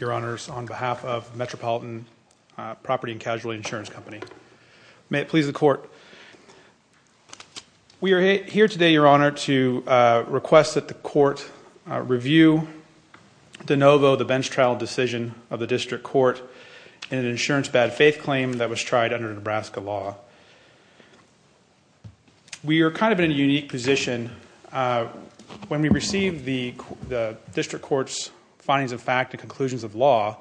Your Honors, on behalf of Metropolitan Property & Casualty Insurance Company. May it please the Court. We are here today, Your Honor, to request that the Court review de novo the bench trial decision of the District Court in an insurance bad faith claim that was tried under Nebraska law. We are kind of in a unique position. When we received the District Court's findings of fact and conclusions of law,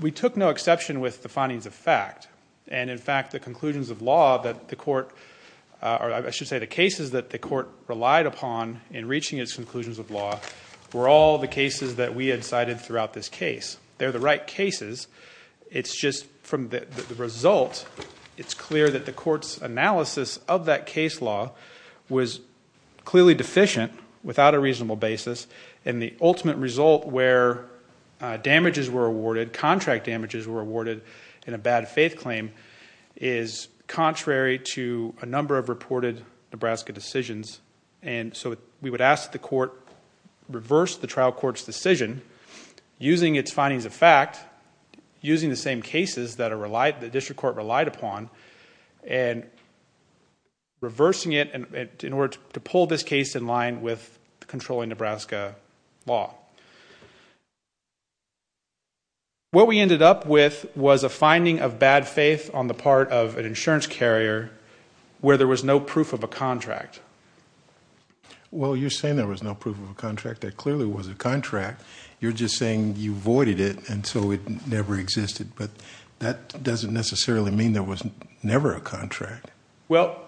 we took no exception with the findings of fact. And in fact, the conclusions of law that the Court, or I should say the cases that the Court relied upon in reaching its conclusions of law were all the cases that we had cited throughout this case. They're the right cases. It's just from the result, it's clear that the Court's analysis of that case law was clearly deficient without a reasonable basis. And the ultimate result where damages were awarded, contract damages were awarded in a bad faith claim is contrary to a number of reported Nebraska decisions. And so we would ask that the Court reverse the trial court's decision using its findings of fact, using the same cases that the District Court relied upon, and reversing it in order to pull this case in line with controlling Nebraska law. What we ended up with was a finding of bad faith on the part of an insurance carrier where there was no proof of a contract. Well, you're saying there was no proof of a contract. There clearly was a contract. You're just saying you voided it and so it never existed. But that doesn't necessarily mean there was never a contract. Well,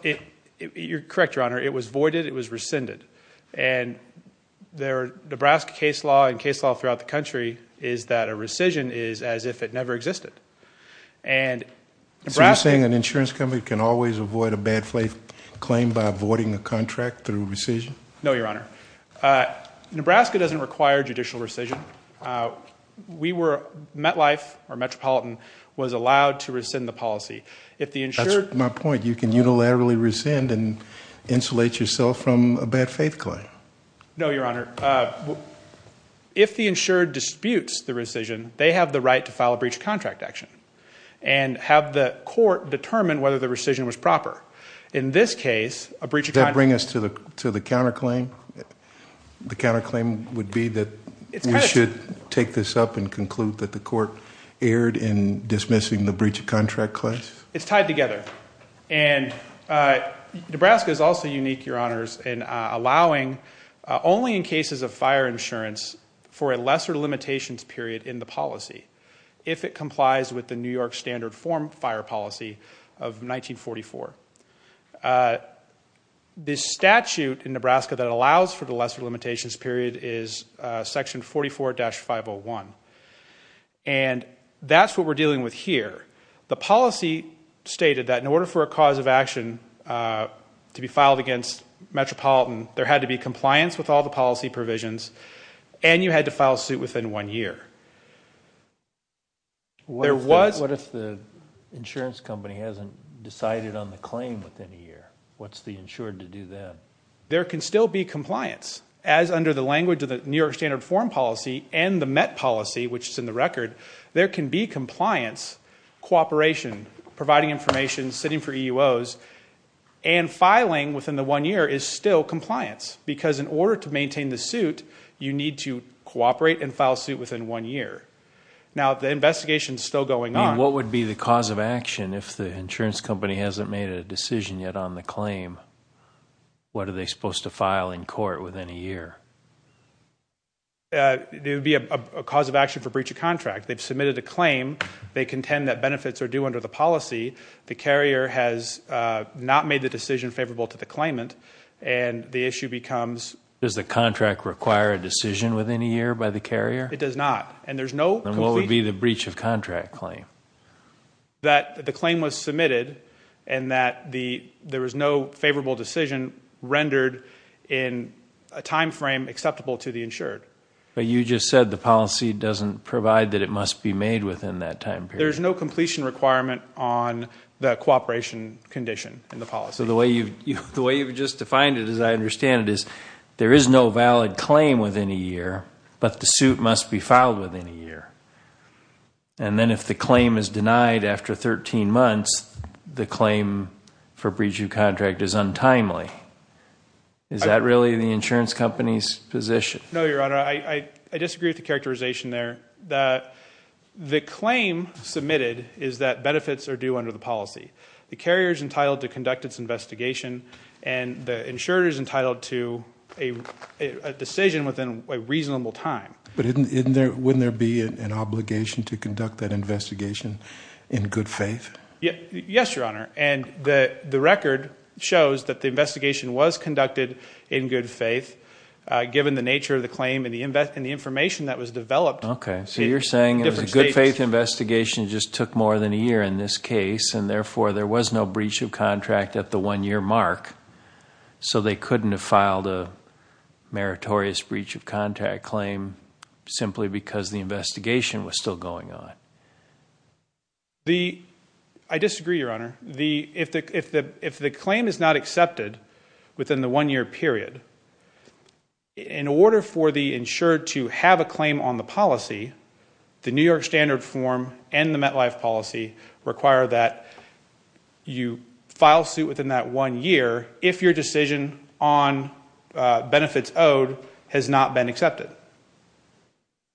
you're correct, Your Honor. It was voided, it was rescinded. And Nebraska case law and case law throughout the country is that a rescission is as if it never existed. So you're saying an insurance company can always avoid a bad faith claim by voiding a contract through rescission? No, Your Honor. Nebraska doesn't require judicial rescission. MetLife or Metropolitan was allowed to rescind the policy. That's my point. You can unilaterally rescind and insulate yourself from a bad faith claim. No, Your Honor. If the insured disputes the rescission, they have the right to file a breach of contract action and have the court determine whether the rescission was proper. In this case, a breach of contract... Does that bring us to the counterclaim? The counterclaim would be that we should take this up and conclude that the court erred in dismissing the breach of contract clause? It's tied together. And Nebraska is also unique, Your Honors, in allowing only in cases of fire insurance for a lesser limitations period in the policy if it complies with the New York Standard Form fire policy of 1944. The statute in Nebraska that allows for the lesser limitations period is section 44-501. And that's what we're dealing with here. The policy stated that in order for a cause of action to be filed against Metropolitan, there had to be compliance with all the policy provisions and you had to file suit within one year. What if the insurance company hasn't decided on the claim within a year? What's the insured to do then? There can still be compliance. As under the language of the New York Standard Form policy and the MET policy, which is in the record, there can be compliance, cooperation, providing information, sitting for EUOs, and filing within the one year is still compliance. Because in order to maintain the suit, you need to cooperate and file suit within one year. Now, the investigation is still going on. What would be the cause of action if the insurance company hasn't made a decision yet on the claim? What are they supposed to file in court within a year? It would be a cause of action for breach of contract. They've submitted a claim. They contend that benefits are due under the policy. The carrier has not made the decision favorable to the claimant and the issue becomes... Does the contract require a decision within a year by the carrier? It does not. What would be the breach of contract claim? That the claim was submitted and that there was no favorable decision rendered in a time frame acceptable to the insured. But you just said the policy doesn't provide that it must be made within that time period. There's no completion requirement on the cooperation condition in the policy. So the way you've just defined it, as I understand it, is there is no valid claim within a year, but the suit must be filed within a year. And then if the claim is denied after 13 months, the claim for breach of contract is untimely. Is that really the insurance company's position? No, Your Honor. I disagree with the characterization there. The claim submitted is that benefits are due under the policy. The carrier is entitled to conduct its investigation and the insurer is entitled to a decision within a reasonable time. But wouldn't there be an obligation to conduct that investigation in good faith? Yes, Your Honor. And the record shows that the investigation was conducted in good faith given the nature of the claim and the information that was developed. Okay. So you're saying it was a good faith investigation that just took more than a year in this case and therefore there was no breach of contract at the one-year mark, so they couldn't have filed a meritorious breach of contract claim simply because the investigation was still going on? I disagree, Your Honor. If the claim is not accepted within the one-year period, in order for the insurer to have a claim on the policy, the New York Standard form and the MetLife policy require that you file suit within that one year if your decision on benefits owed has not been accepted.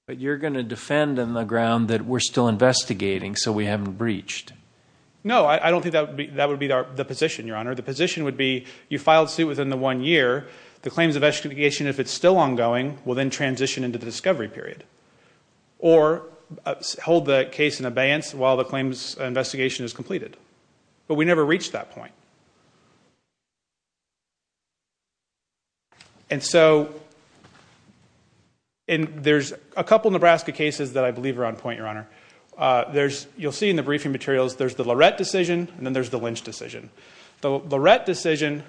But you're going to defend on the ground that we're still investigating so we haven't breached. No, I don't think that would be the position, Your Honor. The position would be you filed suit within the one year. The claims of extrication, if it's still ongoing, will then transition into the discovery period or hold the case in abeyance while the claims investigation is completed. But we never reached that point. There's a couple of Nebraska cases that I believe are on point, Your Honor. You'll see in the briefing materials there's the Lorette decision and then there's the Lynch decision. The Lorette decision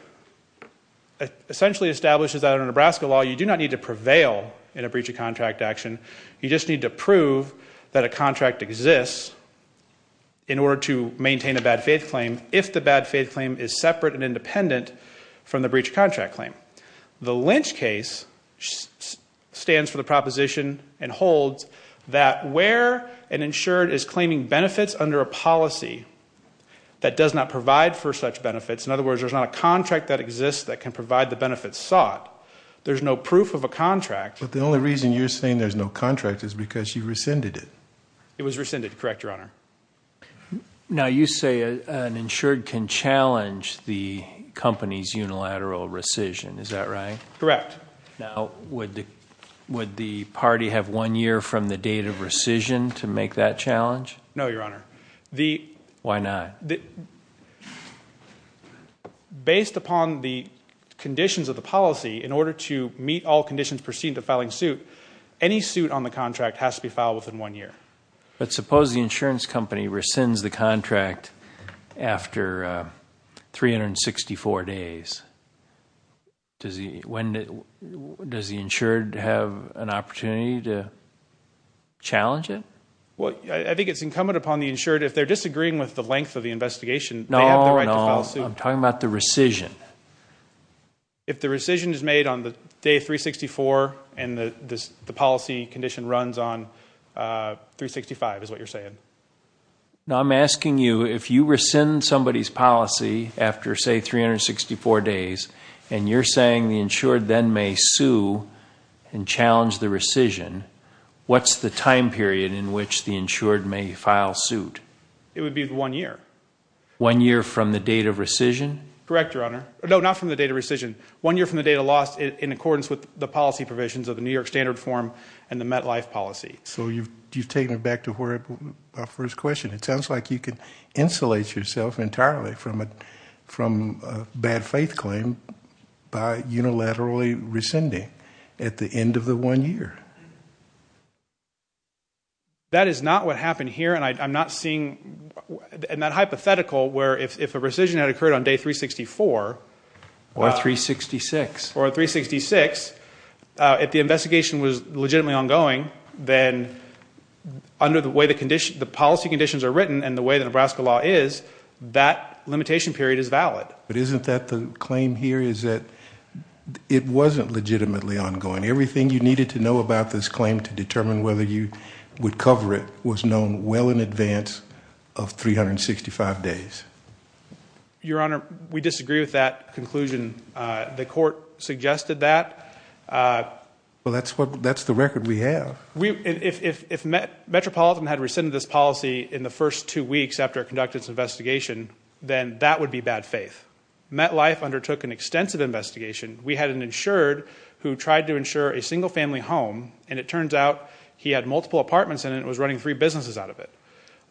essentially establishes that in a Nebraska law you do not need to prevail in a breach of contract action. You just need to prove that a contract exists in order to maintain a bad faith claim if the bad faith claim is separate and independent from the breach of contract claim. The Lynch case stands for the proposition and holds that where an insured is claiming benefits under a policy that does not provide for such benefits, in other words, there's not a contract that exists that can provide the benefits sought, there's no proof of a contract. But the only reason you're saying there's no contract is because you rescinded it. It was rescinded, correct, Your Honor. Now, you say an insured can challenge the company's unilateral rescission. Is that right? Correct. Now, would the party have one year from the date of rescission to make that challenge? No, Your Honor. Why not? Based upon the conditions of the policy, in order to meet all conditions preceding the filing suit, any suit on the contract has to be filed within one year. But suppose the insurance company rescinds the contract after 364 days. Does the insured have an opportunity to challenge it? Well, I think it's incumbent upon the insured, if they're disagreeing with the length of the investigation, they have the right to file suit. No, no, I'm talking about the rescission. If the rescission is made on the day 364 and the policy condition runs on 365, is what you're saying? No, I'm asking you, if you rescind somebody's policy after, say, 364 days, and you're saying the insured then may sue and challenge the rescission, what's the time period in which the insured may file suit? It would be one year. One year from the date of rescission? Correct, Your Honor. No, not from the date of rescission. One year from the date of loss in accordance with the policy provisions of the New York Standard Form and the MetLife policy. So you've taken it back to our first question. It sounds like you could insulate yourself entirely from a bad faith claim by unilaterally rescinding at the end of the one year. That is not what happened here, and I'm not seeing that hypothetical where if a rescission had occurred on day 364... Or 366. Or 366, if the investigation was legitimately ongoing, then under the way the policy conditions are written and the way the Nebraska law is, that limitation period is valid. But isn't that the claim here, is that it wasn't legitimately ongoing? Everything you needed to know about this claim to determine whether you would cover it was known well in advance of 365 days. Your Honor, we disagree with that conclusion. The court suggested that. Well, that's the record we have. If Metropolitan had rescinded this policy in the first two weeks after it conducted its investigation, then that would be bad faith. MetLife undertook an extensive investigation. We had an insured who tried to insure a single-family home, and it turns out he had multiple apartments in it and was running three businesses out of it.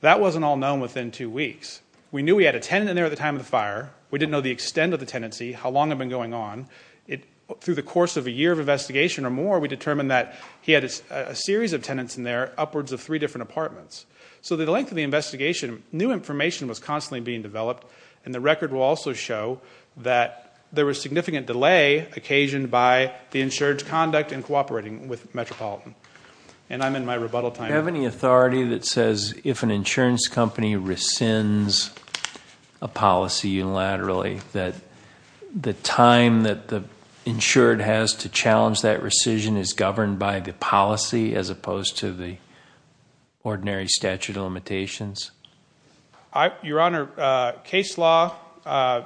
That wasn't all known within two weeks. We knew he had a tenant in there at the time of the fire. We didn't know the extent of the tenancy, how long it had been going on. Through the course of a year of investigation or more, we determined that he had a series of tenants in there, upwards of three different apartments. So the length of the investigation, new information was constantly being developed, and the record will also show that there was significant delay occasioned by the insured's conduct in cooperating with Metropolitan. And I'm in my rebuttal time now. Do you have any authority that says if an insurance company rescinds a policy unilaterally that the time that the insured has to challenge that rescission is governed by the policy as opposed to the ordinary statute of limitations? Your Honor, case law, I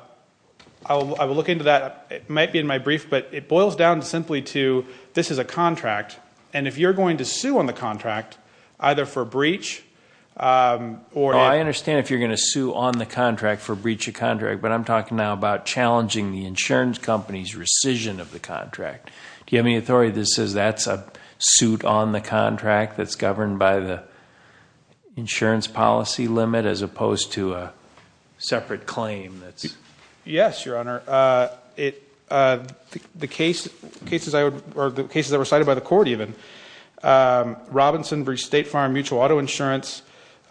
will look into that. It might be in my brief, but it boils down simply to this is a contract, and if you're going to sue on the contract, either for breach or... I understand if you're going to sue on the contract for breach of contract, but I'm talking now about challenging the insurance company's rescission of the contract. Do you have any authority that says that's a suit on the contract that's governed by the insurance policy limit as opposed to a separate claim that's...? Yes, Your Honor. The cases I recited by the court, even, Robinson v. State Farm Mutual Auto Insurance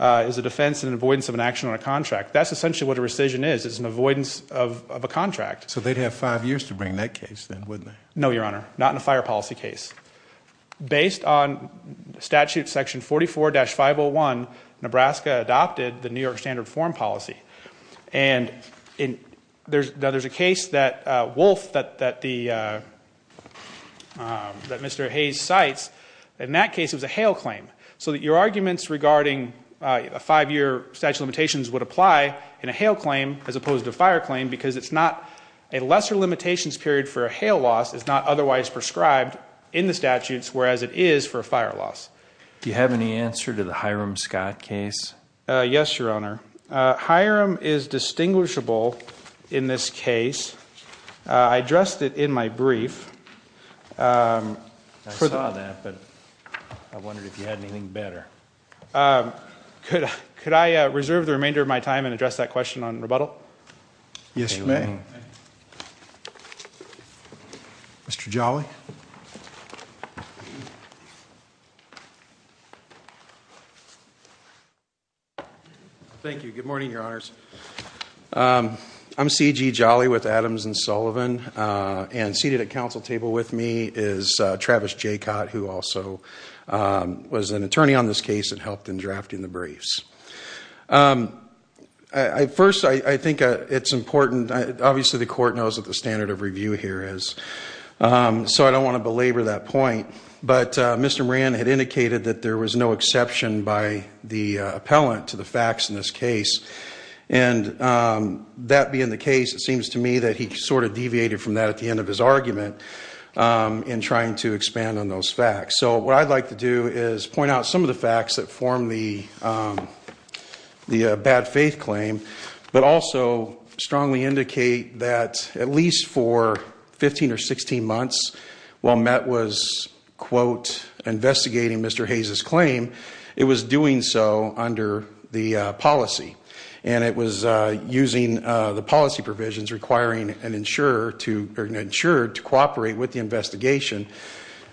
is a defense and avoidance of an action on a contract. That's essentially what a rescission is. It's an avoidance of a contract. So they'd have five years to bring that case then, wouldn't they? No, Your Honor, not in a fire policy case. Based on statute section 44-501, Nebraska adopted the New York Standard Form policy. And there's a case that Wolf, that Mr. Hayes cites, in that case it was a hail claim. So your arguments regarding a five-year statute of limitations would apply in a hail claim as opposed to a fire claim because a lesser limitations period for a hail loss is not otherwise prescribed in the statutes, whereas it is for a fire loss. Do you have any answer to the Hiram Scott case? Yes, Your Honor. Hiram is distinguishable in this case. I addressed it in my brief. I saw that, but I wondered if you had anything better. Could I reserve the remainder of my time and address that question on rebuttal? Yes, you may. Mr. Jolly. Thank you. Good morning, Your Honors. I'm C.G. Jolly with Adams & Sullivan, and seated at the council table with me is Travis Jaycott, who also was an attorney on this case and helped in drafting the briefs. First, I think it's important, obviously the court knows what the standard of review here is, so I don't want to belabor that point, but Mr. Moran had indicated that there was no exception by the appellant to the facts in this case, and that being the case, it seems to me that he sort of deviated from that at the end of his argument in trying to expand on those facts. So what I'd like to do is point out some of the facts that form the bad faith claim, but also strongly indicate that at least for 15 or 16 months while MET was, quote, investigating Mr. Hayes' claim, it was doing so under the policy, and it was using the policy provisions requiring an insurer to cooperate with the investigation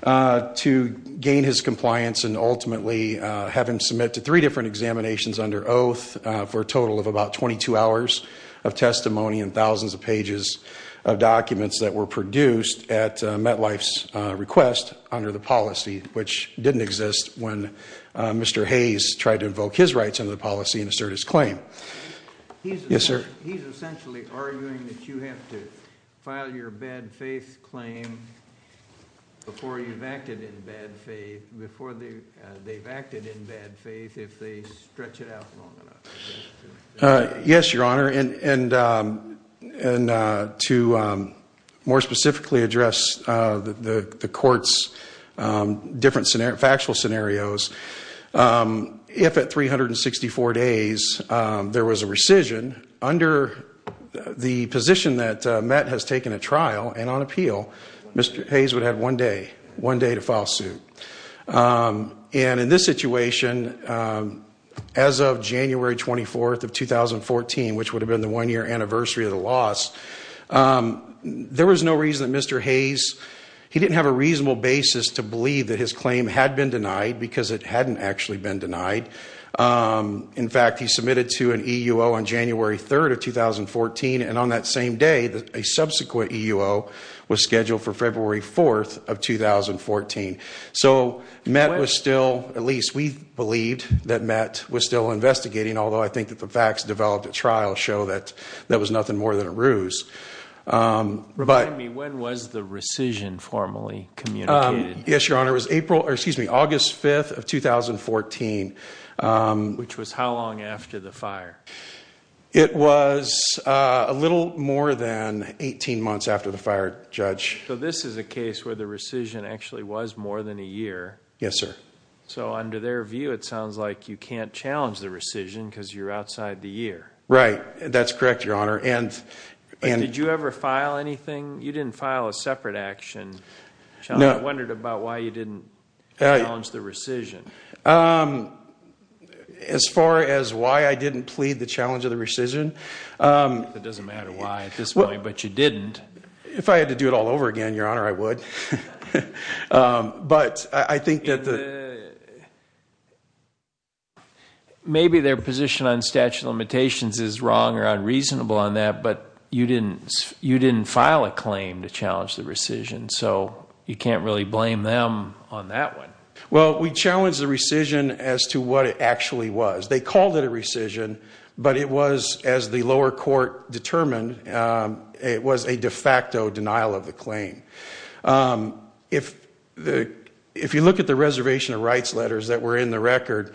to gain his compliance and ultimately have him submit to three different examinations under oath for a total of about 22 hours of testimony and thousands of pages of documents that were produced at METLife's request under the policy, which didn't exist when Mr. Hayes tried to invoke his rights under the policy and assert his claim. Yes, sir. He's essentially arguing that you have to file your bad faith claim before you've acted in bad faith, before they've acted in bad faith if they stretch it out long enough. Yes, Your Honor, and to more specifically address the court's different factual scenarios, if at 364 days there was a rescission, under the position that MET has taken at trial and on appeal, Mr. Hayes would have one day, one day to file suit. And in this situation, as of January 24th of 2014, which would have been the one-year anniversary of the loss, there was no reason that Mr. Hayes, he didn't have a reasonable basis to believe that his claim had been denied because it hadn't actually been denied. In fact, he submitted to an EUO on January 3rd of 2014, and on that same day a subsequent EUO was scheduled for February 4th of 2014. So MET was still, at least we believed that MET was still investigating, although I think that the facts developed at trial show that that was nothing more than a ruse. Remind me, when was the rescission formally communicated? Yes, Your Honor. It was August 5th of 2014. Which was how long after the fire? It was a little more than 18 months after the fire, Judge. So this is a case where the rescission actually was more than a year. Yes, sir. So under their view it sounds like you can't challenge the rescission because you're outside the year. Right, that's correct, Your Honor. Did you ever file anything? You didn't file a separate action. I wondered about why you didn't challenge the rescission. As far as why I didn't plead the challenge of the rescission. It doesn't matter why at this point, but you didn't. If I had to do it all over again, Your Honor, I would. But I think that the... Maybe their position on statute of limitations is wrong or unreasonable on that, but you didn't file a claim to challenge the rescission, so you can't really blame them on that one. Well, we challenged the rescission as to what it actually was. They called it a rescission, but it was, as the lower court determined, it was a de facto denial of the claim. If you look at the reservation of rights letters that were in the record,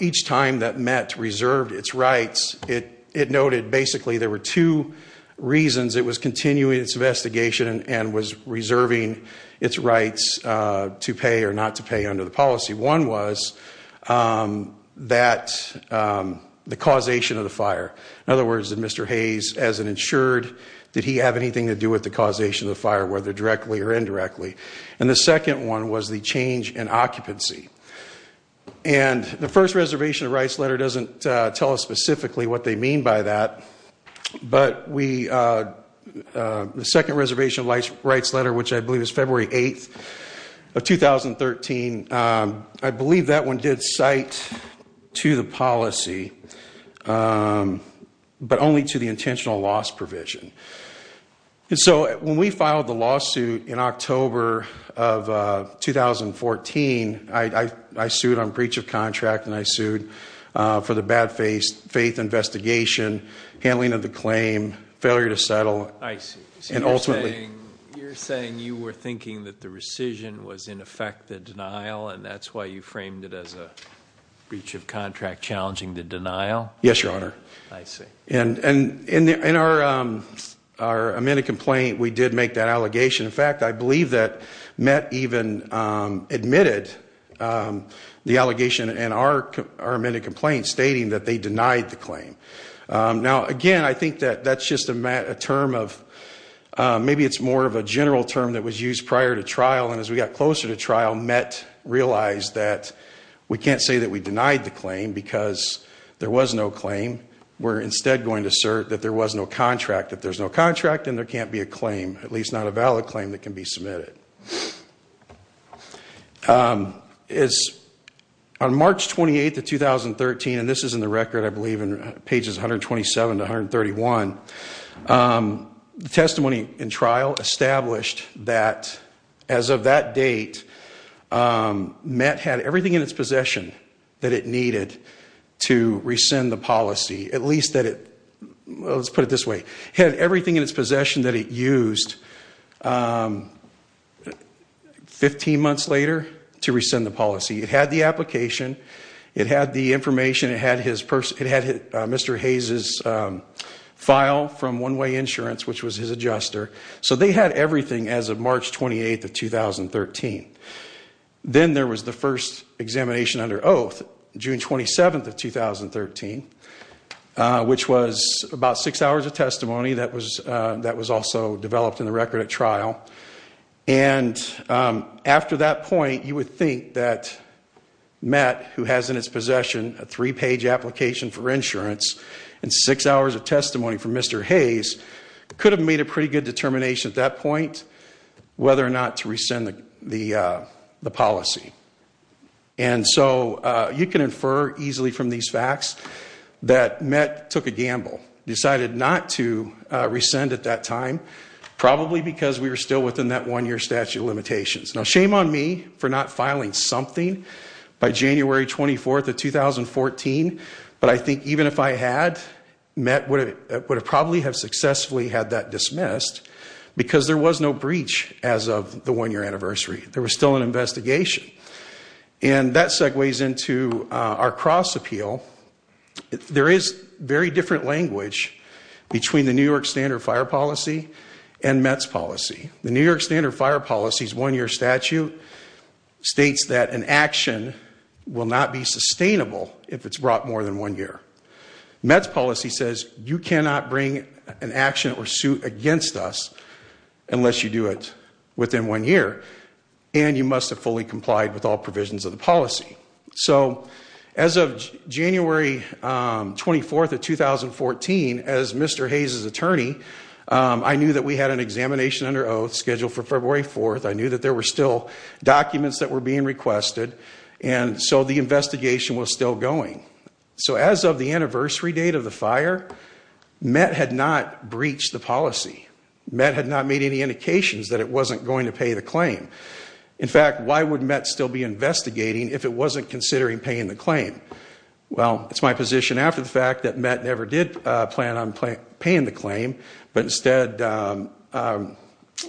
each time that MET reserved its rights, it noted basically there were two reasons it was continuing its investigation and was reserving its rights to pay or not to pay under the policy. One was that the causation of the fire. In other words, did Mr. Hayes, as an insured, did he have anything to do with the causation of the fire, whether directly or indirectly? And the second one was the change in occupancy. And the first reservation of rights letter doesn't tell us specifically what they mean by that, but the second reservation of rights letter, which I believe is February 8th of 2013, I believe that one did cite to the policy, but only to the intentional loss provision. And so when we filed the lawsuit in October of 2014, I sued on breach of contract and I sued for the bad faith investigation, handling of the claim, failure to settle. I see. And ultimately— So you're saying you were thinking that the rescission was in effect the denial and that's why you framed it as a breach of contract challenging the denial? Yes, Your Honor. I see. And in our amended complaint, we did make that allegation. In fact, I believe that MET even admitted the allegation in our amended complaint, stating that they denied the claim. Now, again, I think that that's just a term of— maybe it's more of a general term that was used prior to trial, and as we got closer to trial, MET realized that we can't say that we denied the claim because there was no claim. We're instead going to assert that there was no contract. If there's no contract, then there can't be a claim, at least not a valid claim that can be submitted. On March 28th of 2013, and this is in the record, I believe, pages 127 to 131, the testimony in trial established that as of that date, MET had everything in its possession that it needed to rescind the policy, at least that it—let's put it this way— had everything in its possession that it used 15 months later to rescind the policy. It had the application. It had the information. It had Mr. Hayes' file from One Way Insurance, which was his adjuster. So they had everything as of March 28th of 2013. Then there was the first examination under oath, June 27th of 2013, which was about six hours of testimony. That was also developed in the record at trial. And after that point, you would think that MET, who has in its possession a three-page application for insurance and six hours of testimony from Mr. Hayes, could have made a pretty good determination at that point whether or not to rescind the policy. And so you can infer easily from these facts that MET took a gamble, decided not to rescind at that time, probably because we were still within that one-year statute of limitations. Now, shame on me for not filing something by January 24th of 2014, but I think even if I had, MET would have probably have successfully had that dismissed because there was no breach as of the one-year anniversary. There was still an investigation. And that segues into our cross-appeal. There is very different language between the New York Standard Fire Policy and MET's policy. The New York Standard Fire Policy's one-year statute states that an action will not be sustainable if it's brought more than one year. MET's policy says you cannot bring an action or suit against us unless you do it within one year, and you must have fully complied with all provisions of the policy. So as of January 24th of 2014, as Mr. Hayes' attorney, I knew that we had an examination under oath scheduled for February 4th. I knew that there were still documents that were being requested, and so the investigation was still going. So as of the anniversary date of the fire, MET had not breached the policy. MET had not made any indications that it wasn't going to pay the claim. In fact, why would MET still be investigating if it wasn't considering paying the claim? Well, it's my position after the fact that MET never did plan on paying the claim, but instead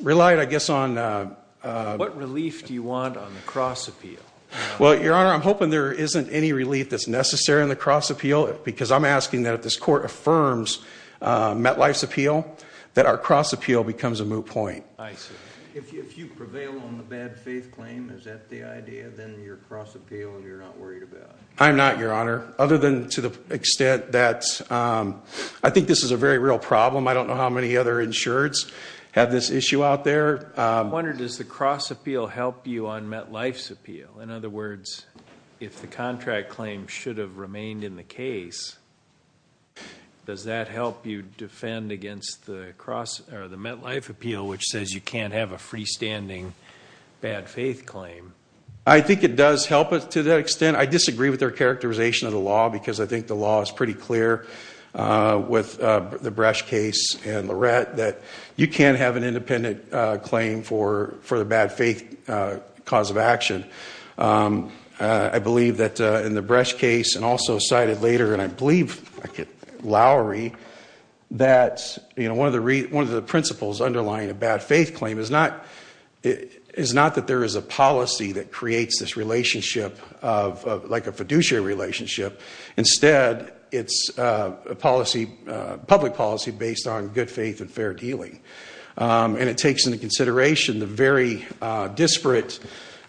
relied, I guess, on... What relief do you want on the cross-appeal? Well, Your Honor, I'm hoping there isn't any relief that's necessary on the cross-appeal because I'm asking that if this Court affirms MET Life's appeal, that our cross-appeal becomes a moot point. I see. If you prevail on the bad faith claim, is that the idea? Then you're cross-appealing and you're not worried about it. I'm not, Your Honor, other than to the extent that I think this is a very real problem. I don't know how many other insureds have this issue out there. Your Honor, I wonder, does the cross-appeal help you on MET Life's appeal? In other words, if the contract claim should have remained in the case, does that help you defend against the MET Life appeal, which says you can't have a freestanding bad faith claim? I think it does help to that extent. I disagree with their characterization of the law because I think the law is pretty clear with the Bresch case and Lorette that you can't have an independent claim for the bad faith cause of action. I believe that in the Bresch case and also cited later, and I believe, Lowry, that one of the principles underlying a bad faith claim is not that there is a policy that creates this relationship like a fiduciary relationship. Instead, it's a public policy based on good faith and fair dealing. It takes into consideration the very disparate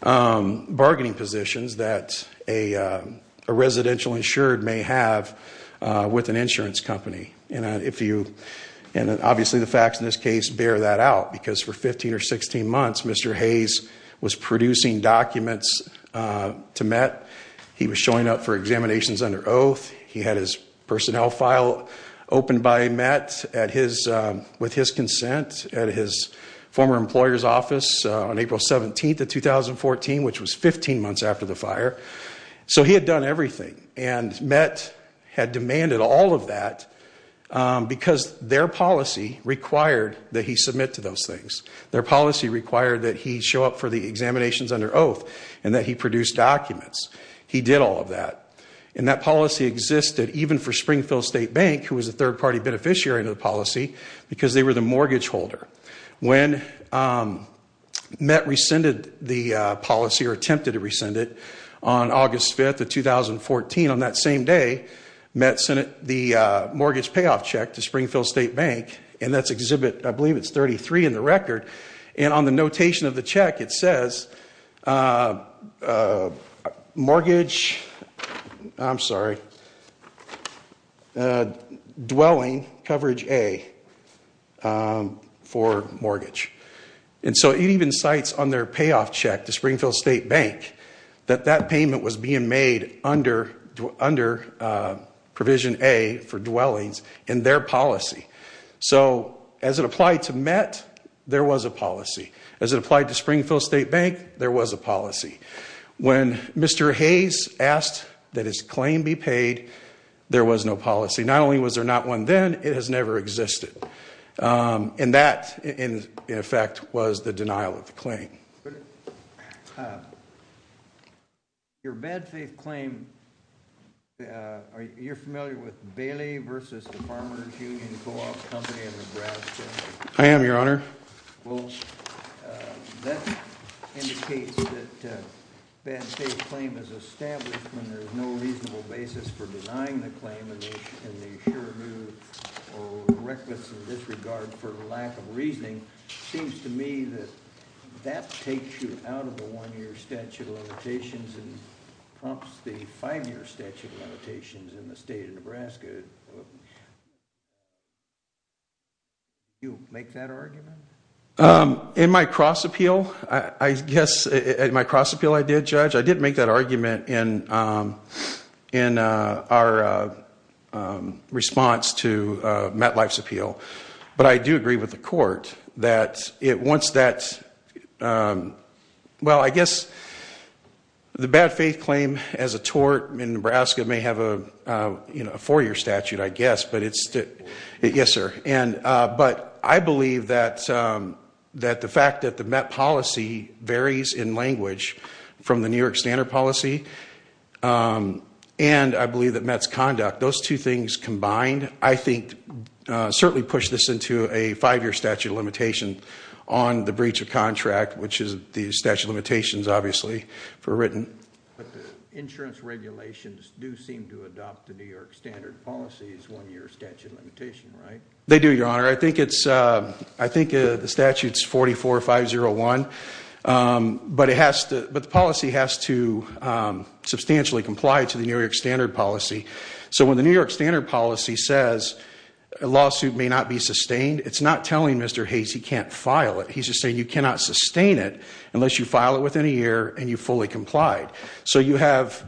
bargaining positions that a residential insured may have with an insurance company. Obviously, the facts in this case bear that out because for 15 or 16 months, Mr. Hayes was producing documents to MET. He was showing up for examinations under oath. He had his personnel file opened by MET with his consent at his former employer's office on April 17th of 2014, which was 15 months after the fire. So he had done everything, and MET had demanded all of that because their policy required that he submit to those things. Their policy required that he show up for the examinations under oath and that he produce documents. He did all of that, and that policy existed even for Springfield State Bank, who was a third-party beneficiary of the policy because they were the mortgage holder. When MET rescinded the policy or attempted to rescind it, on August 5th of 2014, on that same day, MET sent the mortgage payoff check to Springfield State Bank, and that's Exhibit 33 in the record. On the notation of the check, it says, mortgage, I'm sorry, dwelling coverage A for mortgage. So it even cites on their payoff check to Springfield State Bank that that payment was being made under provision A for dwellings in their policy. So as it applied to MET, there was a policy. As it applied to Springfield State Bank, there was a policy. When Mr. Hayes asked that his claim be paid, there was no policy. Not only was there not one then, it has never existed. And that, in effect, was the denial of the claim. Your bad faith claim, you're familiar with Bailey v. the Farmers Union Co-op Company in Nebraska? I am, Your Honor. Well, that indicates that a bad faith claim is established when there's no reasonable basis for denying the claim, and they sure knew or were reckless in this regard for lack of reasoning. It seems to me that that takes you out of the one-year statute of limitations and prompts the five-year statute of limitations in the state of Nebraska. Did you make that argument? In my cross appeal, I guess, in my cross appeal I did, Judge, I did make that argument in our response to MET Life's appeal. But I do agree with the court that it wants that. Well, I guess the bad faith claim as a tort in Nebraska may have a four-year statute, I guess. Yes, sir. But I believe that the fact that the MET policy varies in language from the New York standard policy and I believe that MET's conduct, those two things combined, I think certainly push this into a five-year statute of limitation on the breach of contract, which is the statute of limitations, obviously, for written. But the insurance regulations do seem to adopt the New York standard policy as one-year statute of limitation, right? They do, Your Honor. I think the statute's 44-501, but the policy has to substantially comply to the New York standard policy. So when the New York standard policy says a lawsuit may not be sustained, it's not telling Mr. Hayes he can't file it. He's just saying you cannot sustain it unless you file it within a year and you fully complied. So you have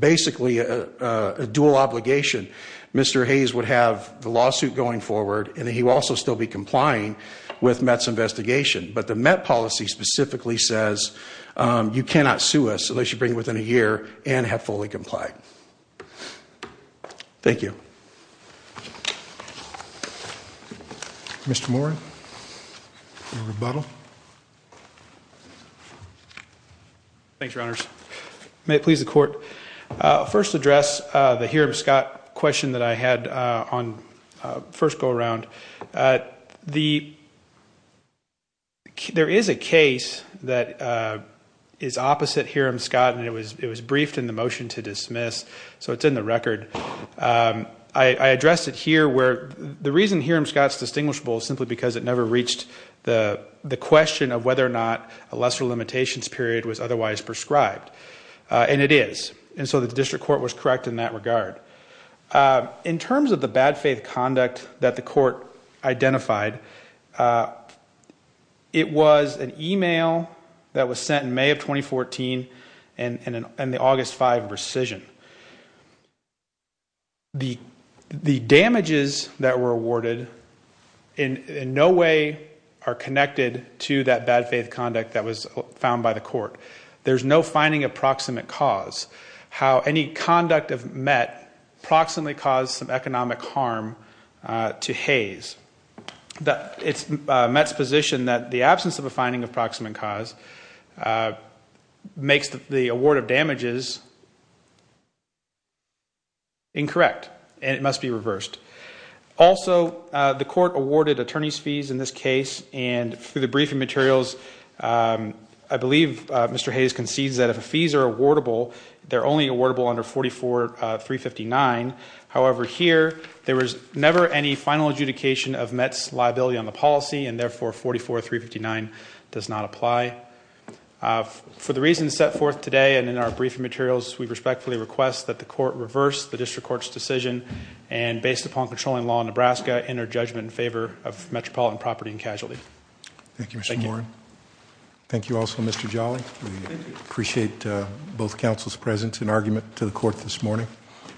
basically a dual obligation. Mr. Hayes would have the lawsuit going forward, and then he would also still be complying with MET's investigation. But the MET policy specifically says you cannot sue us unless you bring it within a year and have fully complied. Thank you. Mr. Moran? A rebuttal? Thanks, Your Honors. May it please the Court. I'll first address the Hiram Scott question that I had on the first go-around. There is a case that is opposite Hiram Scott, and it was briefed in the motion to dismiss, so it's in the record. I addressed it here. The reason Hiram Scott's distinguishable is simply because it never reached the question of whether or not a lesser limitations period was otherwise prescribed. And it is, and so the district court was correct in that regard. In terms of the bad faith conduct that the court identified, it was an email that was sent in May of 2014 and the August 5 rescission. The damages that were awarded in no way are connected to that bad faith conduct that was found by the court. There's no finding of proximate cause. How any conduct of MET proximately caused some economic harm to Hays. MET's position that the absence of a finding of proximate cause makes the award of damages incorrect, and it must be reversed. Also, the court awarded attorney's fees in this case, and through the briefing materials, I believe Mr. Hays concedes that if the fees are awardable, they're only awardable under 44359. However, here, there was never any final adjudication of MET's liability on the policy, and therefore 44359 does not apply. For the reasons set forth today and in our briefing materials, we respectfully request that the court reverse the district court's decision, and based upon controlling law in Nebraska, enter judgment in favor of Metropolitan Property and Casualty. Thank you, Mr. Warren. Thank you also, Mr. Jolly. We appreciate both counsel's presence and argument to the court this morning.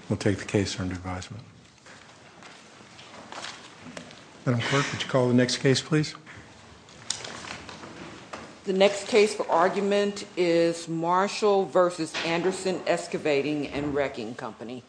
We'll take the case under advisement. Madam Clerk, would you call the next case, please? The next case for argument is Marshall v. Anderson Excavating and Wrecking Company.